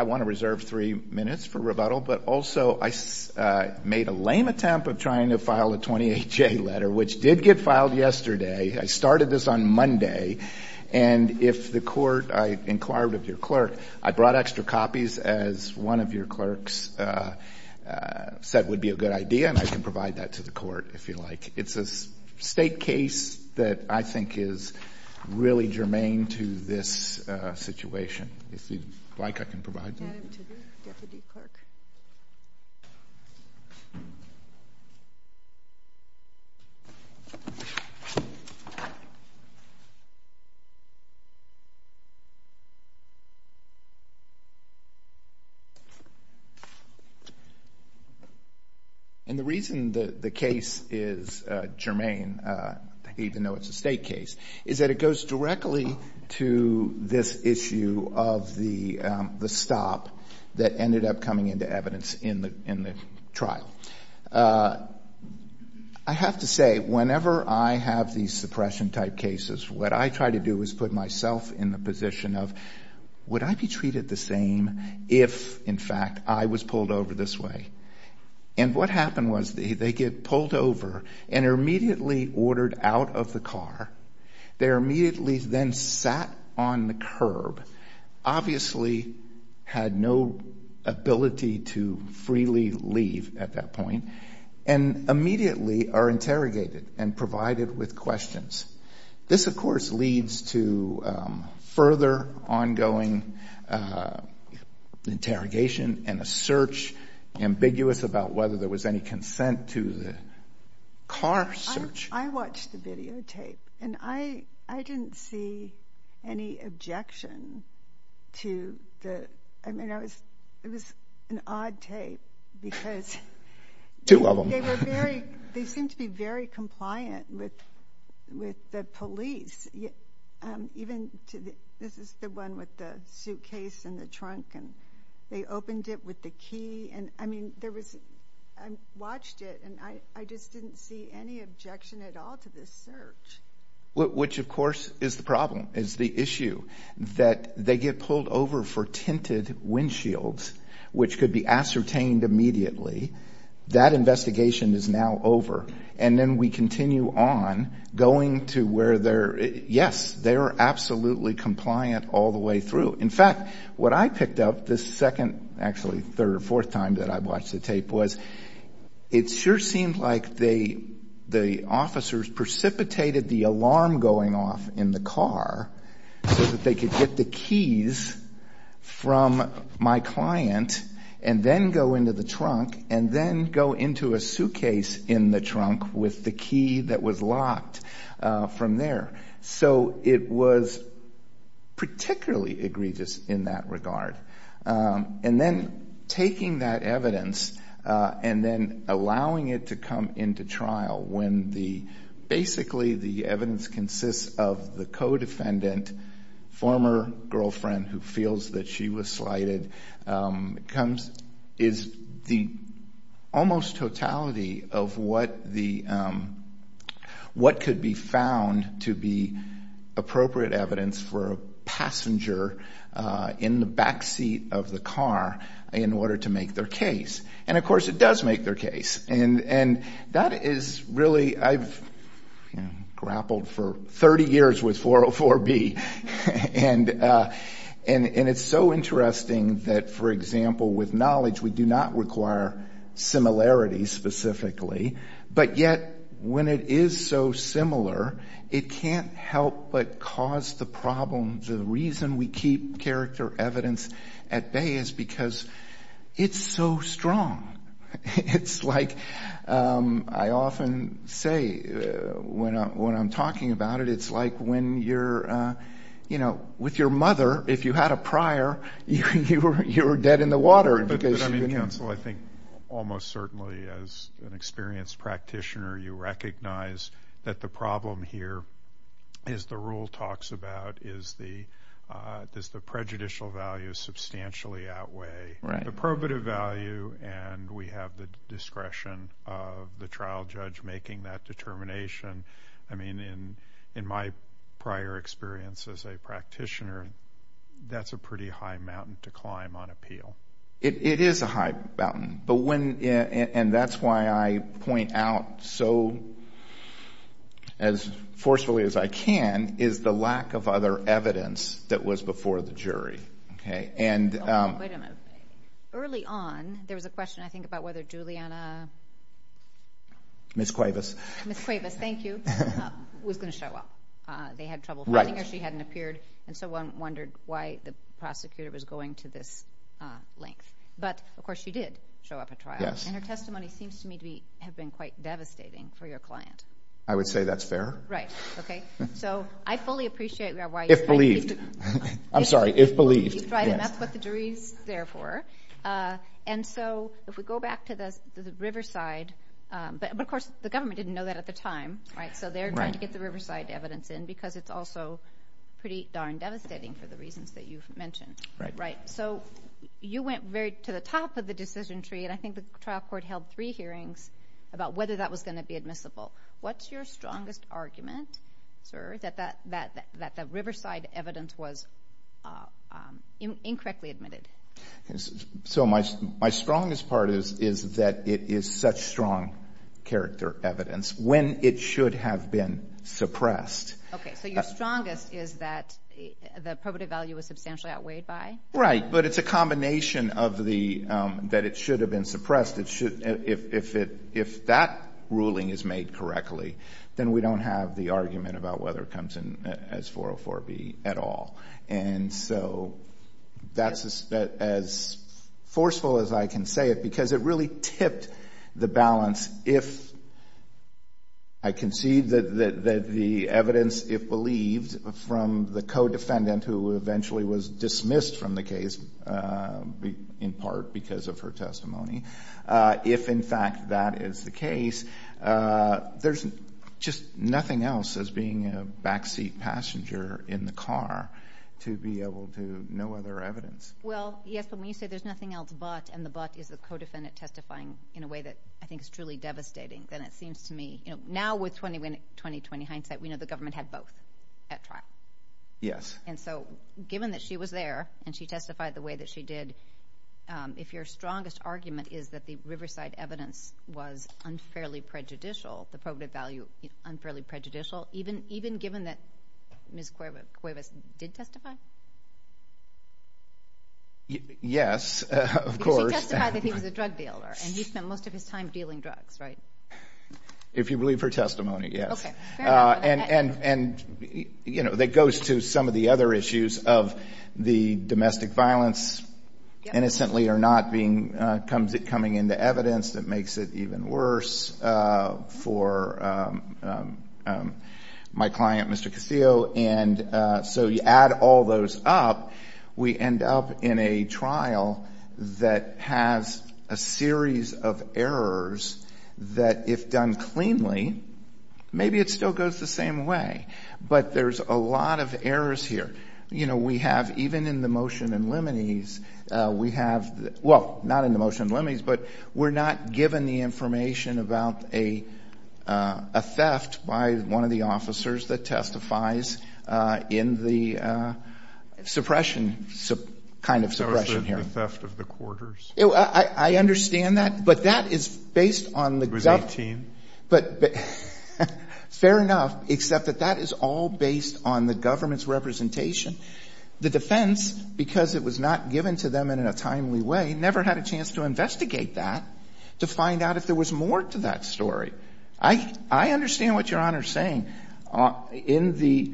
I want to reserve three minutes for rebuttal, but also I made a lame attempt of trying to file a 28-J letter, which did get filed yesterday. I started this on Monday, and if the court I inquired of your clerk, I brought extra copies as one of your clerks said would be a good idea, and I can provide that to the court if you like. It's a State case that I think is really germane to this situation. If you'd like, I can provide that. And the reason the case is germane, even though it's a State case, is that it goes directly to this issue of the stop that ended up coming into evidence in the trial. I have to say, whenever I have these suppression-type cases, what I try to do is put myself in the position of, would I be treated the same if, in fact, I was pulled over this way? And what happened was they get pulled over, and they're immediately ordered out of the car. They're immediately then sat on the curb, obviously had no ability to freely leave at that point, and immediately are interrogated and provided with questions. This, of course, leads to further ongoing interrogation and a search, ambiguous about whether there was any consent to the car search. I watched the videotape, and I didn't see any objection to the... I mean, it was an odd tape, because they seemed to be very compliant with the police, even... This is the one with the suitcase and the trunk, and they opened it with the key. I mean, I watched it, and I just didn't see any objection at all to this search. Which, of course, is the problem, is the issue that they get pulled over for tinted windshields, which could be ascertained immediately. That investigation is now over, and then we continue on going to where they're... Yes, they're absolutely compliant all the way through. In fact, what I picked up the second... Actually, third or fourth time that I watched the tape was it sure seemed like the officers precipitated the alarm going off in the car so that they could get the keys from my client, and then go into the trunk, and then go into a suitcase in the trunk with the key that was locked from there. So it was particularly egregious in that regard. And then taking that evidence, and then allowing it to come into trial when basically the evidence consists of the co-defendant, former girlfriend who feels that she was slighted, is the almost totality of what could be found to be appropriate evidence for a passenger in the backseat of the car in order to make their case. And, of course, it does make their case, and that is really... I've grappled for 30 years with 404B, and it's so interesting that, for example, with knowledge, we do not require similarity specifically. But yet, when it is so similar, it can't help but cause the problem. The reason we keep character evidence at bay is because it's so strong. It's like I often say when I'm talking about it, it's like when you're... But, I mean, counsel, I think almost certainly as an experienced practitioner, you recognize that the problem here, as the rule talks about, is the prejudicial value substantially outweigh the probative value, and we have the discretion of the trial judge making that determination. I mean, in my prior experience as a practitioner, that's a pretty high mountain to climb on an appeal. It is a high mountain, and that's why I point out so as forcefully as I can is the lack of other evidence that was before the jury. Okay? Wait a minute. Early on, there was a question, I think, about whether Juliana... Ms. Cuevas. Ms. Cuevas, thank you, was going to show up. They had trouble finding her. She hadn't appeared, and so one wondered why the prosecutor was going to this length. But, of course, she did show up at trial, and her testimony seems to me to have been quite devastating for your client. I would say that's fair. Right. Okay. So, I fully appreciate why you... If believed. I'm sorry, if believed. Right, and that's what the jury's there for. And so, if we go back to the Riverside... But, of course, the government didn't know that at the time, right? So they're trying to get the you mentioned. Right. Right. So, you went to the top of the decision tree, and I think the trial court held three hearings about whether that was going to be admissible. What's your strongest argument, sir, that the Riverside evidence was incorrectly admitted? So, my strongest part is that it is such strong character evidence, when it should have been suppressed. Okay. So, your strongest is that the probative value was substantially outweighed by? Right, but it's a combination of that it should have been suppressed. If that ruling is made correctly, then we don't have the argument about whether it comes in as 404B at all. And so, that's as forceful as I can say it, because it really tipped the balance. If I concede that the evidence, if believed, from the co-defendant, who eventually was dismissed from the case, in part because of her testimony, if, in fact, that is the case, there's just nothing else as being a backseat passenger in the car to be able to know other evidence. Well, yes, but when you say there's nothing else but, and the but is the co-defendant testifying in a way that I think is truly devastating, then it seems to me, you know, now with 2020 hindsight, we know the government had both at trial. Yes. And so, given that she was there, and she testified the way that she did, if your strongest argument is that the Riverside evidence was unfairly prejudicial, the probative value unfairly prejudicial, even given that Ms. Cuevas did testify? Yes, of course. Because she testified that he was a drug dealer, and he spent most of his time dealing drugs, right? If you believe her testimony, yes. Okay, fair enough. And, you know, that goes to some of the other issues of the domestic violence, innocently or not being, coming into evidence that makes it even worse for my client, Mr. Castillo. And so you add all those up, we end up in a trial that has a series of errors, that if done cleanly, maybe it still goes the same way. But there's a lot of errors here. You know, we have, even in the motion in limines, we have, well, not in the motion in limines, but we're not given the suppression, kind of suppression here. So it's the theft of the quarters? I understand that. But that is based on the government. It was 18? But, fair enough, except that that is all based on the government's representation. The defense, because it was not given to them in a timely way, never had a chance to investigate that, to find out if there was more to that story. I understand what Your Honor is saying. In the,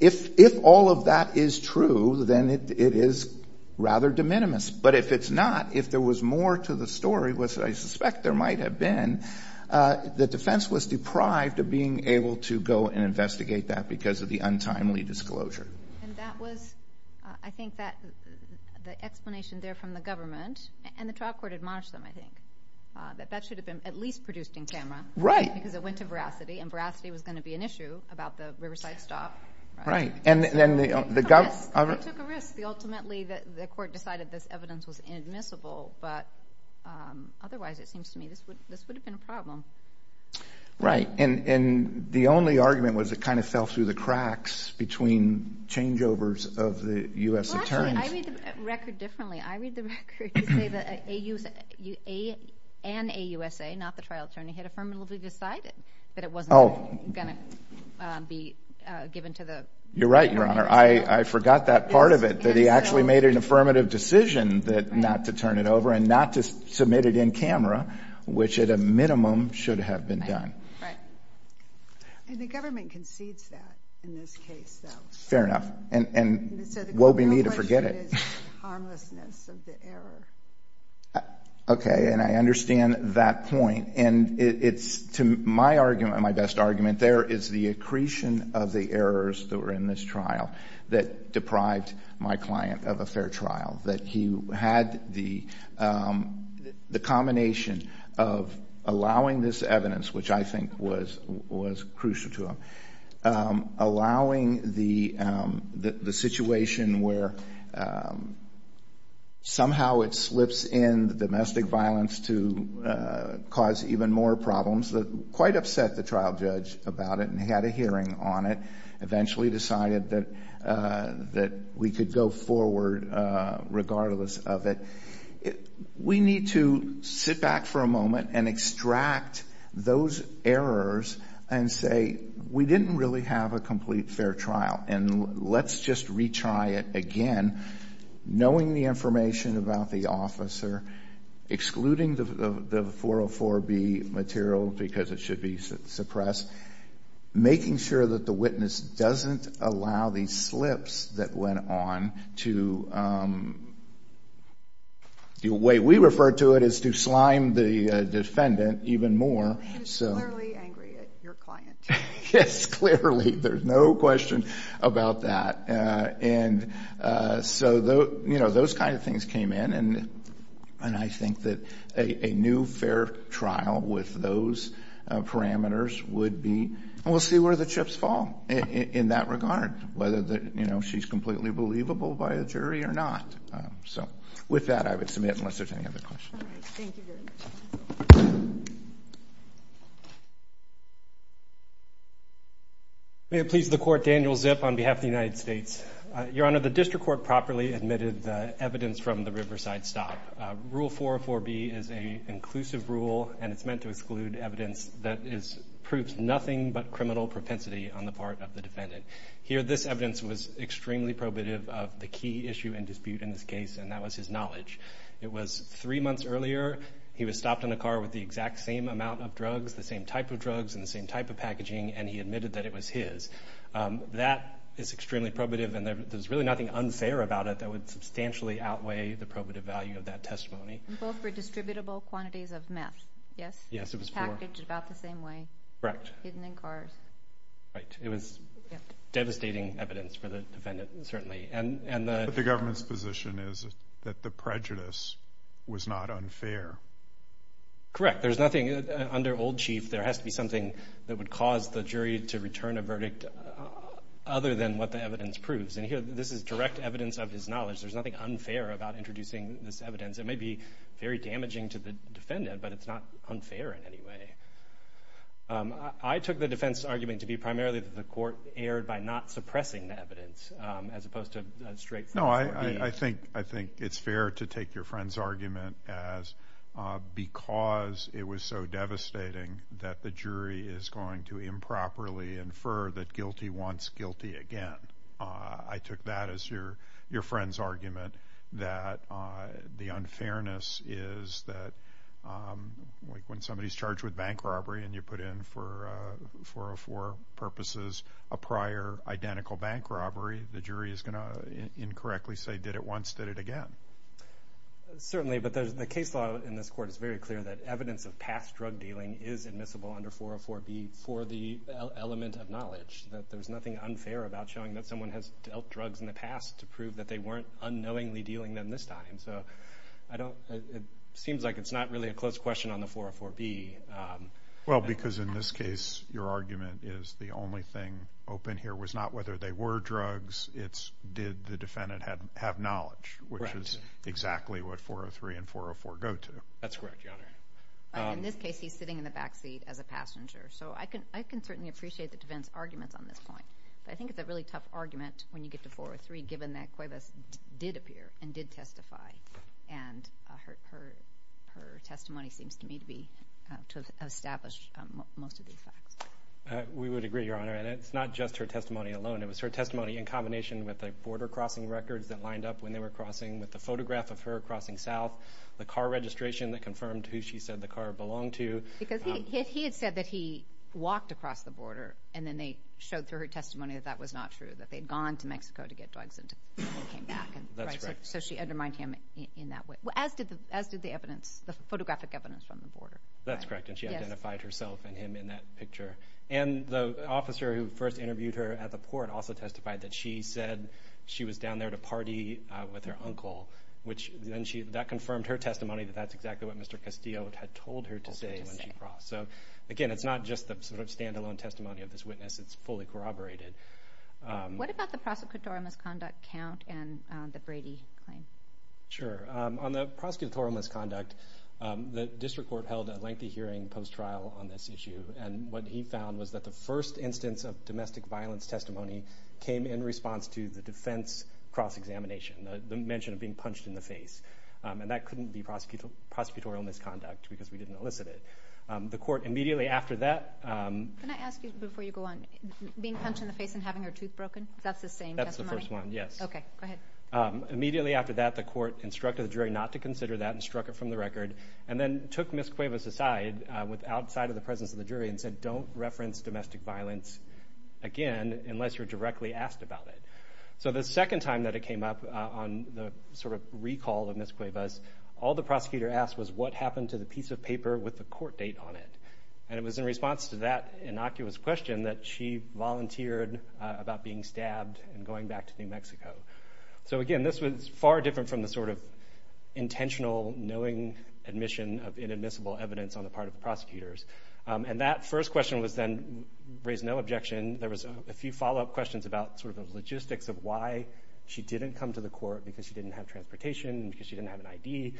if all of that is true, then it is rather de minimis. But if it's not, if there was more to the story, which I suspect there might have been, the defense was deprived of being able to go and investigate that because of the untimely disclosure. And that was, I think that the explanation there from the government, and the trial court admonished them, I think, that that should have been at least produced in camera. Right. Because it went to veracity, and veracity was going to be an issue about the Riverside stop. Right. And then the, the government... It took a risk. Ultimately, the court decided this evidence was inadmissible. But otherwise, it seems to me this would, this would have been a problem. Right. And, and the only argument was it kind of fell through the cracks between changeovers of the U.S. Attorney's... Actually, I read the record differently. I read the record to say that an AUSA, not the trial attorney, had affirmatively decided that it wasn't going to be given to the... You're right, Your Honor. I forgot that part of it, that he actually made an affirmative decision that not to turn it over and not to submit it in camera, which at a minimum should have been done. Right. And the government concedes that in this case, though. Fair enough. And, and woe be me to forget it. So the real question is the harmlessness of the error. Okay. And I understand that point. And it's to my argument, my best argument there, is the accretion of the errors that were in this trial that deprived my client of a fair trial. That he had the, the combination of allowing this evidence, which I think was, was crucial to him, allowing the, the situation where somehow it slips in the domestic violence to cause even more problems that quite upset the trial judge about it. And he had a hearing on it, eventually decided that, that we could go forward regardless of it. We need to sit back for a moment and extract those errors and say, we didn't really have a complete fair trial. And let's just retry it again, knowing the information about the officer, excluding the, the 404B material because it should be suppressed, making sure that the witness doesn't allow these slips that went on to, the way we refer to it is to slime the defendant even more. He was clearly angry at your client. Yes, clearly. There's no question about that. And so, you know, those kind of things came in. And I think that a, a new fair trial with those parameters would be, and we'll see where the chips fall in that regard, whether the, you know, she's completely believable by a jury or not. So with that, I would submit unless there's any other questions. May it please the court, Daniel Zip on behalf of the United States. Your Honor, the district court properly admitted the evidence from the Riverside stop. Rule 404B is a inclusive rule, and it's meant to exclude evidence that is, proves nothing but criminal propensity on the part of the defendant. Here, this evidence was extremely probative of the key issue and dispute in this case, and that was his knowledge. It was three months earlier, he was stopped in a car with the exact same amount of drugs, the same type of drugs, and the same type of packaging, and he admitted that it was his. That is extremely probative, and there's really nothing unfair about it that would substantially outweigh the probative value of that testimony. And both were distributable quantities of meth, yes? Yes, it was four. Packaged about the same way. Correct. Hidden in cars. Right. It was devastating evidence for the defendant, certainly. And, and the... But the government's position is that the prejudice was not unfair. Correct. There's nothing, under old chief, there has to be something that would cause the jury to return a verdict other than what the evidence proves. And here, this is direct evidence of his knowledge. There's nothing unfair about introducing this evidence. It may be very damaging to the defendant, but it's not unfair in any way. I took the defense's argument to be primarily that the court erred by not suppressing the evidence, as opposed to a straight 404B. No, I think, I think it's fair to take your friend's argument as because it was so devastating that the jury is going to improperly infer that guilty wants guilty again. I took that as your, your friend's argument, that the unfairness is that, like when somebody's charged with bank robbery and you put in for 404 purposes, a prior identical bank robbery, the jury is going to incorrectly say, did it once, did it again. Certainly, but there's, the case law in this court is very clear that evidence of past drug dealing is admissible under 404B for the element of knowledge. That there's nothing unfair about showing that someone has dealt drugs in the past to prove that they weren't unknowingly dealing them this time. So, I don't, it seems like it's not really a close question on the 404B. Well, because in this case, your argument is the only thing open here was not whether they were drugs, it's did the defendant have knowledge, which is exactly what 403 and 404 go to. That's correct, Your Honor. In this case, he's sitting in the back seat as a passenger. So, I can, I can certainly appreciate the defense's arguments on this point. But I think it's a really tough argument when you get to 403, given that Cuevas did appear and did testify. And her testimony seems to me to be, to establish most of these facts. We would agree, Your Honor. And it's not just her testimony alone. It was her testimony in combination with the border crossing records that lined up when they were crossing, with the photograph of her crossing south, the car registration that confirmed who she said the car belonged to. Because he had said that he walked across the border, and then they showed through her testimony that that was not true, that they had gone to Mexico to get drugs and came back. That's correct. So, she undermined him in that way, as did the evidence, the photographic evidence from the border. That's correct. And she identified herself and him in that picture. And the officer who first interviewed her at the port also testified that she said she was down there to party with her uncle, which then she, that confirmed her testimony that that's exactly what Mr. Castillo had told her to say. So, again, it's not just the sort of stand-alone testimony of this witness. It's fully corroborated. What about the prosecutorial misconduct count and the Brady claim? Sure. On the prosecutorial misconduct, the district court held a lengthy hearing post-trial on this issue. And what he found was that the first instance of domestic violence testimony came in response to the defense cross-examination, the mention of being punched in the face. And that couldn't be prosecutorial misconduct because we didn't elicit it. The court immediately after that... Can I ask you before you go on? Being punched in the face and having her tooth broken? That's the same testimony? That's the first one, yes. Okay, go ahead. Immediately after that, the court instructed the jury not to consider that and struck it from the record. And then took Ms. Cuevas aside outside of the presence of the jury and said, don't reference domestic violence again unless you're directly asked about it. So the second time that it came up on the sort of recall of Ms. Cuevas, all the prosecutor asked was what happened to the piece of paper with the court date on it? And it was in response to that innocuous question that she volunteered about being stabbed and going back to New Mexico. So again, this was far different from the sort of intentional knowing admission of inadmissible evidence on the part of the prosecutors. And that first question was then raised no objection. There was a few follow-up questions about sort of the logistics of why she didn't come to the court because she didn't have transportation, because she didn't have an ID.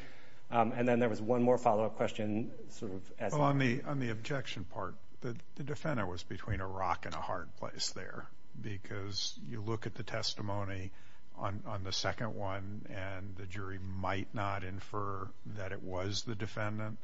And then there was one more follow-up question sort of as... Well, on the objection part, the defendant was between a rock and a hard place there. Because you look at the testimony on the second one and the jury might not infer that it was the defendant.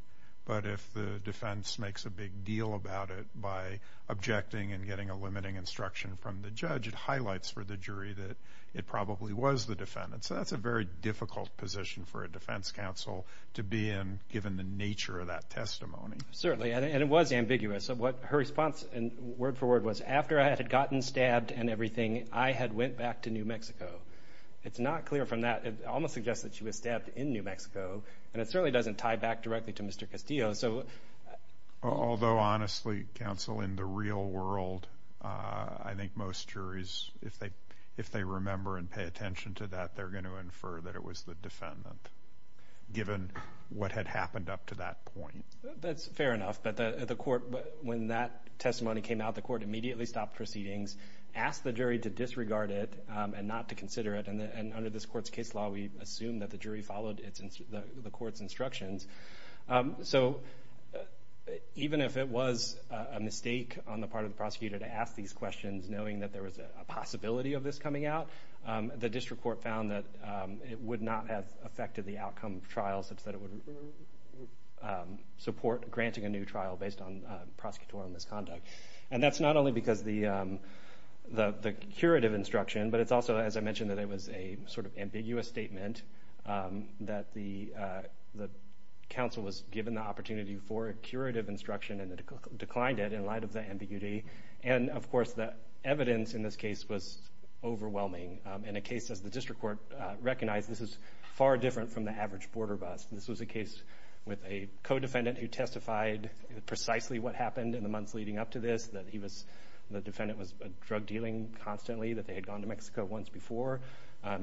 But if the defense makes a big deal about it by objecting and getting a limiting instruction from the judge, it highlights for the jury that it probably was the defendant. So that's a very difficult position for a defense counsel to be in given the nature of that testimony. Certainly, and it was ambiguous. Her response word for word was, after I had gotten stabbed and everything, I had went back to New Mexico. It's not clear from that. It almost suggests that she was stabbed in New Mexico. And it certainly doesn't tie back directly to Mr. Castillo. Although, honestly, counsel, in the real world, I think most juries, if they remember and pay attention to that, they're going to infer that it was the defendant, given what had happened up to that point. That's fair enough. But when that testimony came out, the court immediately stopped proceedings, asked the jury to disregard it and not to consider it. And under this court's case law, we assume that the jury followed the court's instructions. So even if it was a mistake on the part of the prosecutor to ask these questions, knowing that there was a possibility of this coming out, the district court found that it would not have affected the outcome of trial such that it would support granting a new trial based on prosecutorial misconduct. And that's not only because of the curative instruction, but it's also, as I mentioned, that it was a sort of ambiguous statement that the counsel was given the opportunity for a curative instruction and declined it in light of the ambiguity. And, of course, the evidence in this case was overwhelming. In a case, as the district court recognized, this is far different from the average border bust. This was a case with a co-defendant who testified precisely what happened in the months leading up to this. The defendant was drug dealing constantly, that they had gone to Mexico once before.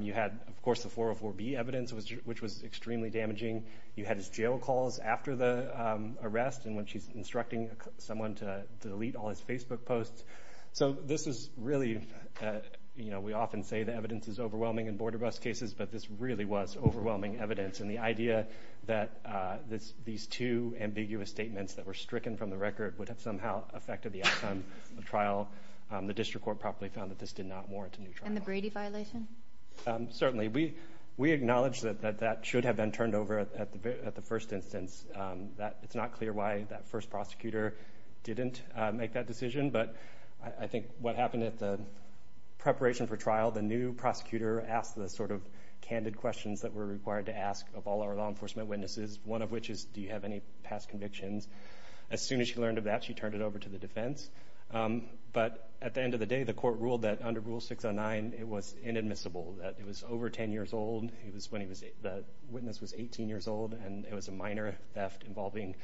You had, of course, the 404B evidence, which was extremely damaging. You had his jail calls after the arrest and when she's instructing someone to delete all his Facebook posts. So this is really, you know, we often say the evidence is overwhelming in border bust cases, but this really was overwhelming evidence. And the idea that these two ambiguous statements that were stricken from the record would have somehow affected the outcome of the trial, the district court probably found that this did not warrant a new trial. And the Brady violation? Certainly. We acknowledge that that should have been turned over at the first instance. It's not clear why that first prosecutor didn't make that decision, but I think what happened at the preparation for trial, the new prosecutor asked the sort of candid questions that were required to ask of all our law enforcement witnesses, one of which is, do you have any past convictions? As soon as she learned of that, she turned it over to the defense. But at the end of the day, the court ruled that under Rule 609, it was inadmissible, that it was over 10 years old. It was when the witness was 18 years old and it was a minor theft involving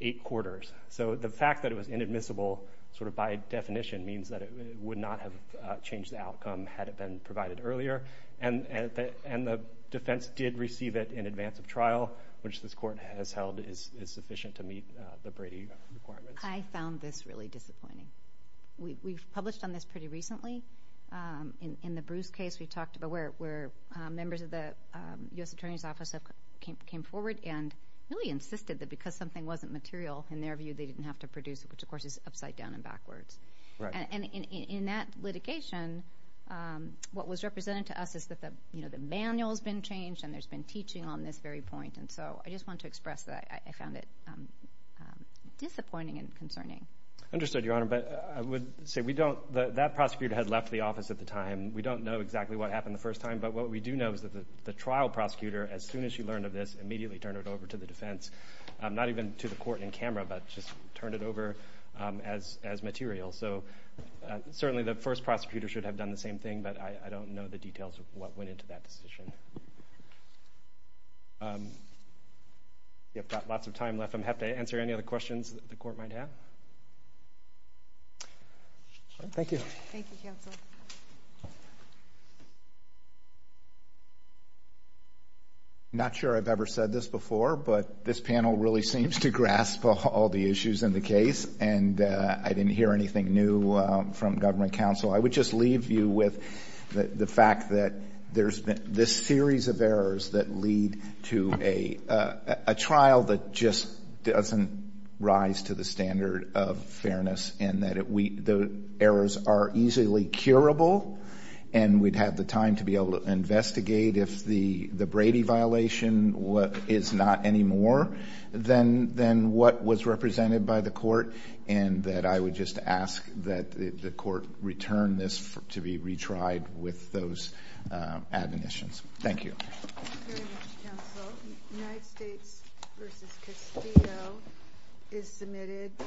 eight quarters. So the fact that it was inadmissible sort of by definition means that it would not have changed the outcome had it been provided earlier. And the defense did receive it in advance of trial, which this court has held is sufficient to meet the Brady requirements. I found this really disappointing. We published on this pretty recently. In the Bruce case, we talked about where members of the U.S. Attorney's Office came forward and really insisted that because something wasn't material, in their view, they didn't have to produce it, which, of course, is upside down and backwards. And in that litigation, what was represented to us is that the manual has been changed and there's been teaching on this very point. And so I just wanted to express that I found it disappointing and concerning. I understood, Your Honor, but I would say we don't – that prosecutor had left the office at the time. We don't know exactly what happened the first time, but what we do know is that the trial prosecutor, as soon as she learned of this, immediately turned it over to the defense, not even to the court in camera, but just turned it over as material. So certainly the first prosecutor should have done the same thing, but I don't know the details of what went into that decision. I've got lots of time left. I'm happy to answer any other questions that the court might have. Thank you. Thank you, Counsel. I'm not sure I've ever said this before, but this panel really seems to grasp all the issues in the case, and I didn't hear anything new from government counsel. I would just leave you with the fact that there's this series of errors that lead to a trial that just doesn't rise to the standard of fairness and that the errors are easily curable, and we'd have the time to be able to investigate if the Brady violation is not any more than what was represented by the court, and that I would just ask that the court return this to be retried with those admonitions. Thank you. Thank you very much, Counsel. United States v. Castillo is submitted.